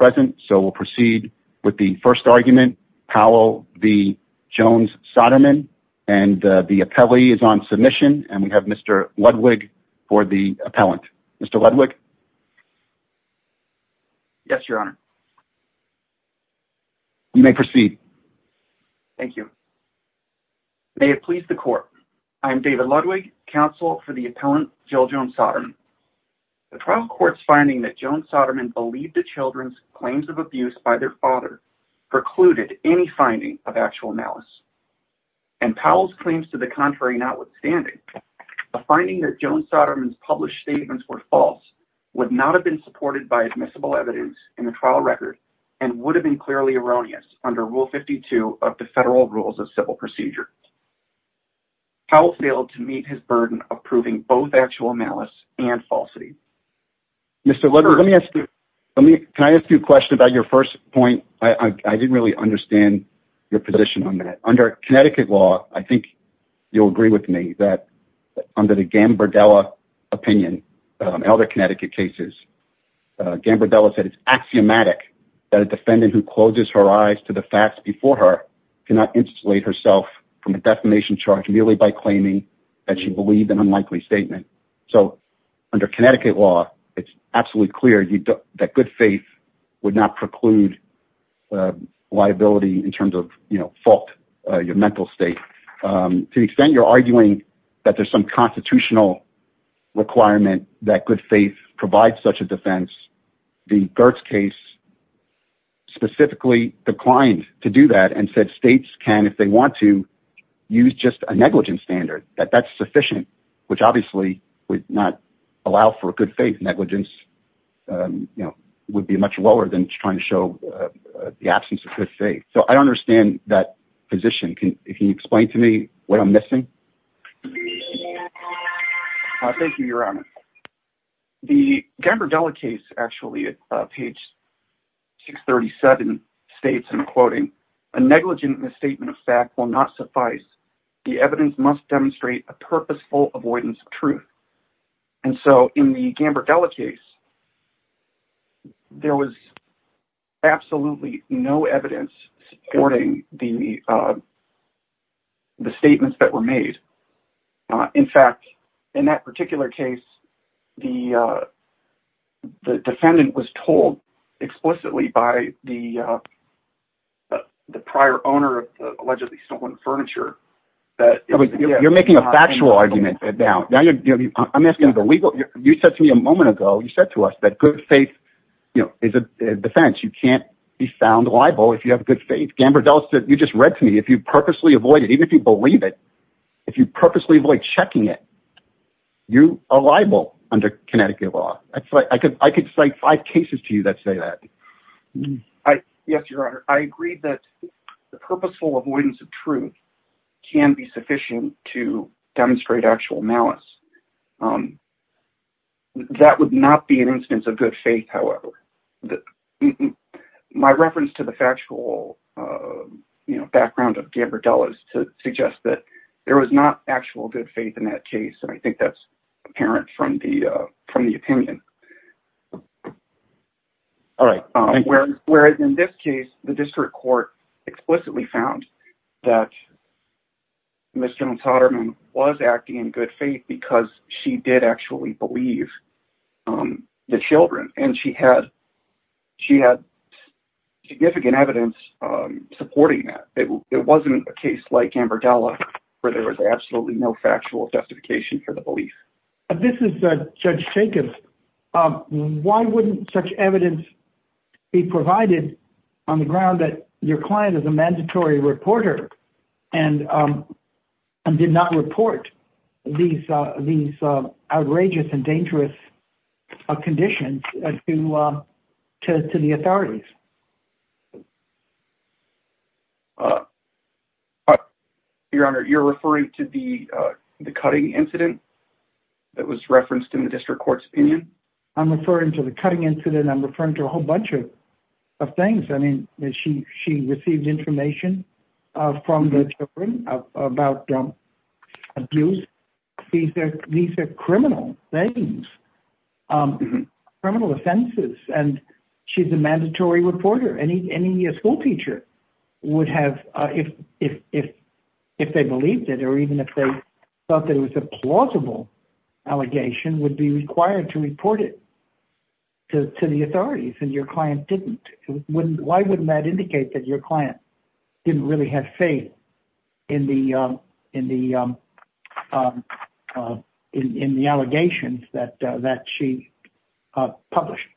present, so we'll proceed with the first argument, Powell v. Jones-Soderman, and the appellee is on submission, and we have Mr. Ludwig for the appellant. Mr. Ludwig? Yes, Your Honor. You may proceed. Thank you. May it please the Court, I am David Ludwig, counsel for the appellant, Jill Jones-Soderman. The trial court's finding that Jones-Soderman believed the children's claims of abuse by their father precluded any finding of actual malice, and Powell's claims to the contrary notwithstanding, a finding that Jones-Soderman's published statements were false would not have been supported by admissible evidence in the trial record and would have been clearly erroneous under Rule 52 of the Federal Rules of Civil Procedure. Powell failed to meet his burden of proving both actual malice and falsity. Mr. Ludwig, can I ask you a question about your first point? I didn't really understand your position on that. Under Connecticut law, I think you'll agree with me that under the Gambardella opinion, in other Connecticut cases, Gambardella said it's axiomatic that a defendant who closes her eyes to the facts before her cannot insulate herself from a defamation charge merely by claiming that she believed an unlikely statement. So under Connecticut law, it's absolutely clear that good faith would not preclude liability in terms of, you know, fault, your mental state. To the extent you're arguing that there's some constitutional requirement that good faith provides such a defense, the Gertz case specifically declined to do that and said states can, if they want to, use just a negligence standard, that that's sufficient, which obviously would not allow for a good faith. Negligence, you know, would be much lower than trying to show the absence of good faith. So I don't understand that position. Can you explain to me what I'm missing? Thank you, Your Honor. The Gambardella case, actually, at page 637, states, and I'm quoting, a negligent misstatement of fact will not suffice. The evidence must demonstrate a purposeful avoidance of truth. And so in the Gambardella case, there was absolutely no evidence supporting the statements that were made. In fact, in that particular case, the defendant was told explicitly by the prior owner of the allegedly stolen furniture that... You're making a factual argument. Now, I'm asking the legal... You said to me a moment ago, you said to us that good faith, you know, is a defense. You can't be found liable if you have good faith. Gambardella said, you just read to me, if you purposely avoid it, you are liable under Connecticut law. I could cite five cases to you that say that. Yes, Your Honor. I agree that the purposeful avoidance of truth can be sufficient to demonstrate actual malice. That would not be an instance of good faith, however. My reference to the factual background of Gambardella suggests that there was not actual good faith in that case. And I think that's apparent from the opinion. Whereas in this case, the district court explicitly found that Ms. Jones-Hoderman was acting in good faith because she did actually believe the children. And she had significant evidence supporting that. It wasn't a case like this. It's just a case for the belief. This is Judge Jacobs. Why wouldn't such evidence be provided on the ground that your client is a mandatory reporter and did not report these outrageous and dangerous conditions to the authorities? Your Honor, you're referring to the cutting incident that was referenced in the district court's opinion? I'm referring to the cutting incident. I'm referring to a whole bunch of things. I mean, she received information from the children about abuse. These are criminal things, criminal offenses. And she's a mandatory reporter. Any school teacher would have, if they believed it, or even if they thought that it was a plausible allegation, would be required to report it to the authorities. And your client didn't. Why wouldn't that indicate that your client didn't really have faith in the allegations that she published?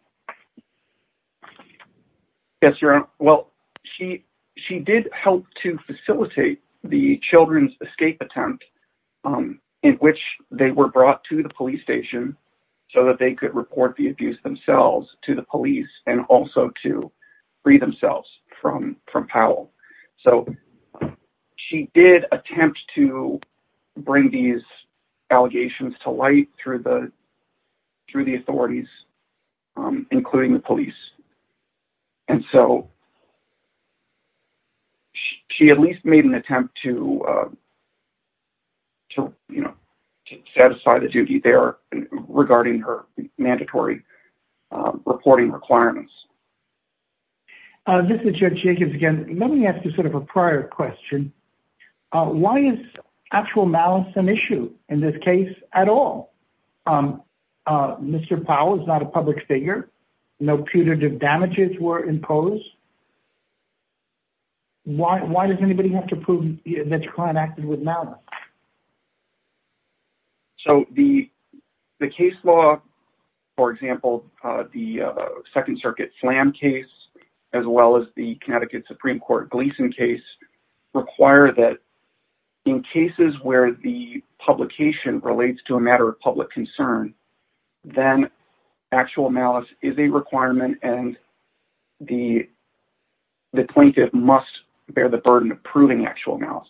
Yes, your Honor. Well, she did help to facilitate the children's escape attempt in which they were brought to the police station so that they could report the abuse themselves to the police and also to free themselves from Powell. So she did attempt to bring these allegations to through the authorities, including the police. And so she at least made an attempt to satisfy the duty there regarding her mandatory reporting requirements. This is Judge Jacobs again. Let me ask you sort of a prior question. Why is actual malice an issue in this case at all? Mr. Powell is not a public figure. No punitive damages were imposed. Why does anybody have to prove that your client acted with malice? So the case law, for example, the Second Circuit slam case, as well as the Connecticut Supreme Court Gleason case, require that in cases where the publication relates to a matter of public concern, then actual malice is a requirement and the plaintiff must bear the burden of proving actual malice.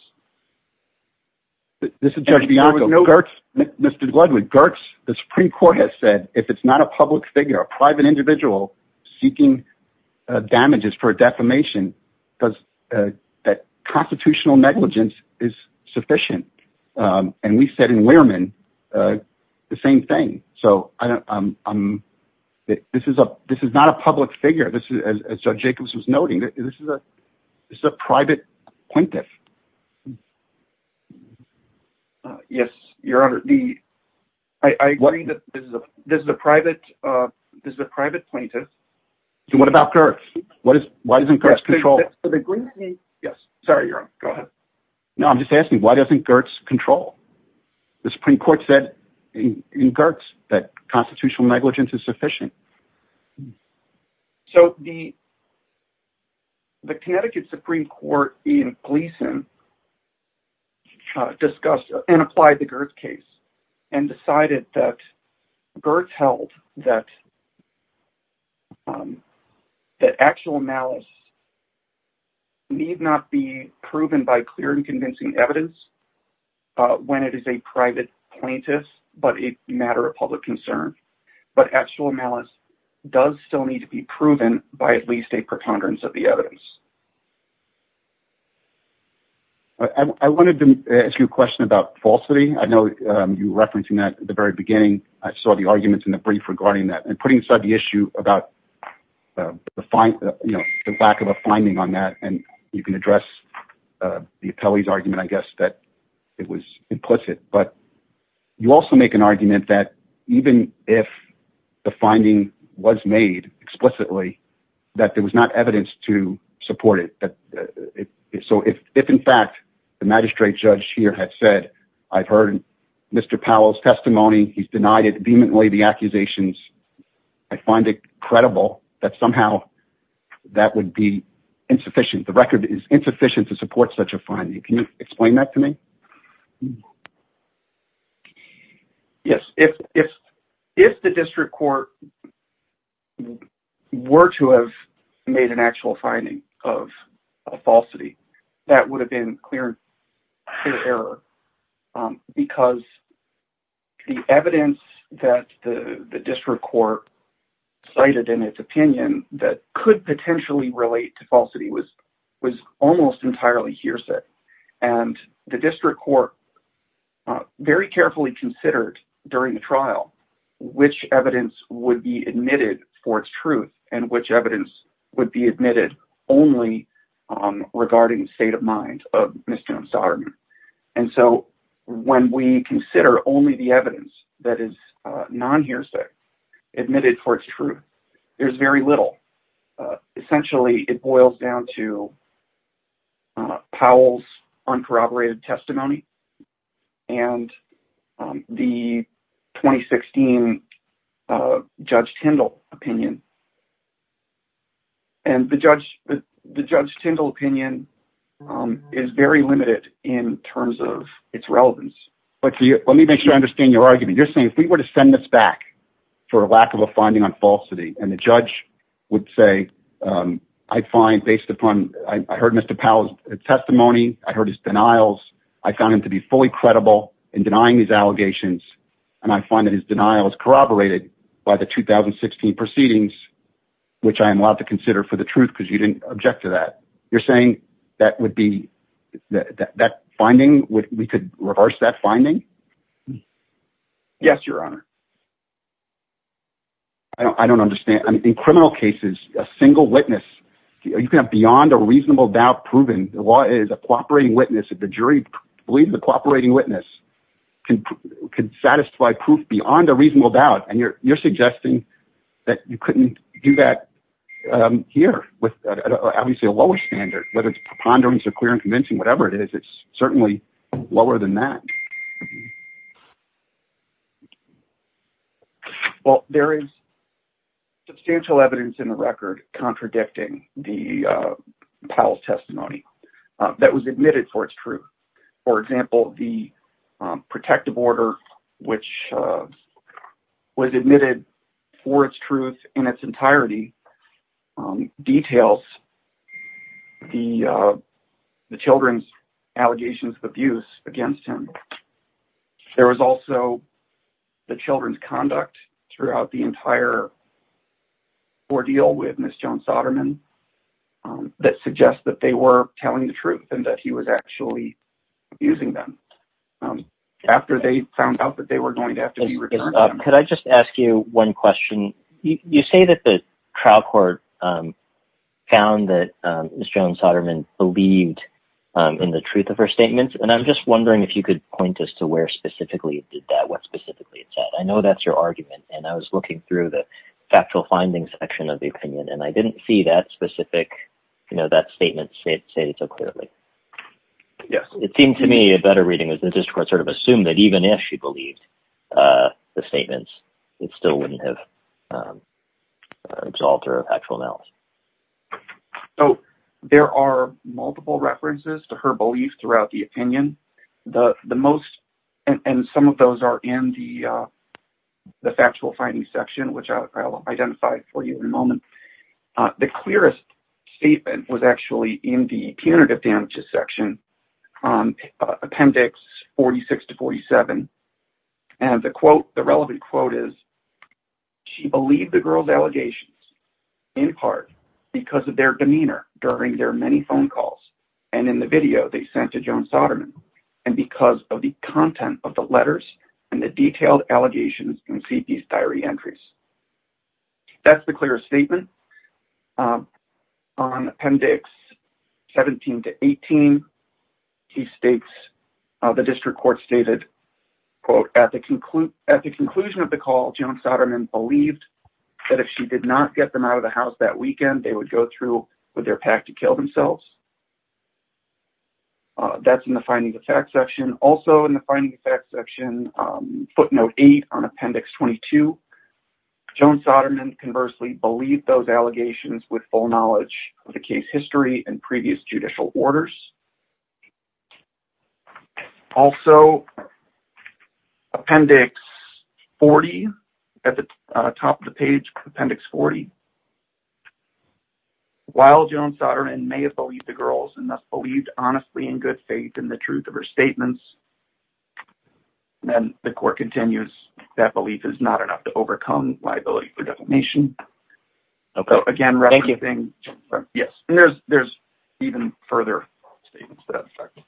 This is Judge Bianco. Mr. Bloodwood, the Supreme Court has said if it's not a public figure, a private individual seeking damages for a defamation, because that constitutional negligence is sufficient. And we said in Wehrman the same thing. So this is not a public figure. This is, as Judge Jacobs was noting, this is a private plaintiff. Yes, Your Honor. I agree that this is a private plaintiff. So what about Gertz? Why doesn't Gertz control? Yes. Sorry, Your Honor. Go ahead. No, I'm just asking why doesn't Gertz control? The Supreme Court said in Gertz that constitutional negligence is sufficient. So the Connecticut Supreme Court in Gleason discussed and applied the Gertz case and decided that Gertz held that that actual malice need not be proven by clear and convincing evidence when it is a private plaintiff, but a matter of public concern. But actual malice does still need to be proven by at least a preconderance of the evidence. I wanted to ask you a question about falsity. I know you were referencing that at the very beginning. I saw the arguments in the brief regarding that. And putting aside the issue about the lack of a finding on that, and you can address the appellee's argument, I guess, that it was implicit. But you also make an argument that even if the finding was made explicitly, that there was not evidence to support it. So if in fact, the magistrate judge here had said, I've heard Mr. Powell's testimony, he's denied it vehemently, the accusations, I find it credible that somehow that would be insufficient. The record is insufficient to support such a finding. Can you explain that to me? Yes. If the district court were to have made an actual finding of a falsity, that would have been clear error. Because the evidence that the district court cited in its opinion that could potentially relate to falsity was almost entirely hearsay. And the district court very carefully considered during the trial, which evidence would be admitted for its truth, and which evidence would be admitted only regarding the state of mind of Ms. Jones-Darden. And so when we consider only the evidence that is non-hearsay, admitted for its truth, there's very little. Essentially, it boils down to Powell's uncorroborated testimony and the 2016 Judge Tindall opinion. And the Judge Tindall opinion is very limited in terms of its relevance. But let me make sure I understand your argument. You're saying if we were to send this back for a lack of a finding on falsity, and the judge would say, I heard Mr. Powell's testimony, I heard his denials, I found him to be fully credible in denying these allegations, and I find that his denial is corroborated by the 2016 proceedings, which I am allowed to consider for the truth because you didn't object to that. You're saying that we could reverse that finding? Yes, Your Honor. I don't understand. In criminal cases, a single witness, you can have beyond a reasonable doubt proven. The law is a cooperating witness. If the jury believes the cooperating witness could satisfy proof beyond a reasonable doubt, and you're suggesting that you couldn't do that here with obviously a lower standard, whether it's preponderance or clear and convincing, whatever it is, it's certainly lower than that. Well, there is substantial evidence in the record contradicting the Powell's testimony that was admitted for its truth. For example, the protective order, which was admitted for its truth in its entirety, details the children's allegations of abuse against him. There was also the children's conduct throughout the entire ordeal with Ms. Joan Soderman that suggests that they were telling the truth and that he was actually abusing them after they found out that they were going to have to be returned. Could I just ask you one question? You say that the trial court found that Ms. Joan Soderman believed in the truth of her statements, and I'm just wondering if you could point us to where specifically it did that, what specifically it said. I know that's your argument, and I was looking through the factual findings section of the opinion, and I didn't see that specific, you know, that statement stated so clearly. Yes. It seemed to me a better reading of the it still wouldn't have resolved her factual malice. So, there are multiple references to her belief throughout the opinion. And some of those are in the factual findings section, which I'll identify for you in a moment. The clearest statement was actually in the punitive damages section, on appendix 46 to 47, and the quote, the relevant quote is, she believed the girl's allegations in part because of their demeanor during their many phone calls and in the video they sent to Joan Soderman and because of the content of the letters and the detailed allegations in CP's diary entries. That's the clearest statement. On appendix 17 to 18, he states, the district court stated, quote, at the conclusion of the call, Joan Soderman believed that if she did not get them out of the house that weekend, they would go through with their pack to kill themselves. That's in the finding of fact section. Also in the finding of fact section, footnote eight on appendix 22, Joan Soderman conversely believed those allegations with full knowledge of the case history and previous judicial orders. Also, appendix 40, at the top of the page, appendix 40, while Joan Soderman may have believed the girls and thus believed honestly in good faith in the truth of her statements, then the court continues, that belief is not enough to overcome liability for defamation. Okay, thank you. Yes, and there's even further statements to that effect.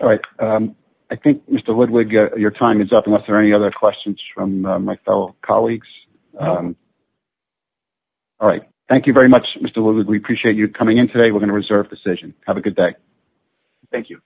All right. I think, Mr. Ludwig, your time is up, unless there are any other questions from my fellow colleagues. All right. Thank you very much, Mr. Ludwig. We appreciate you coming in today. We're going to reserve decision. Have a good day. Thank you.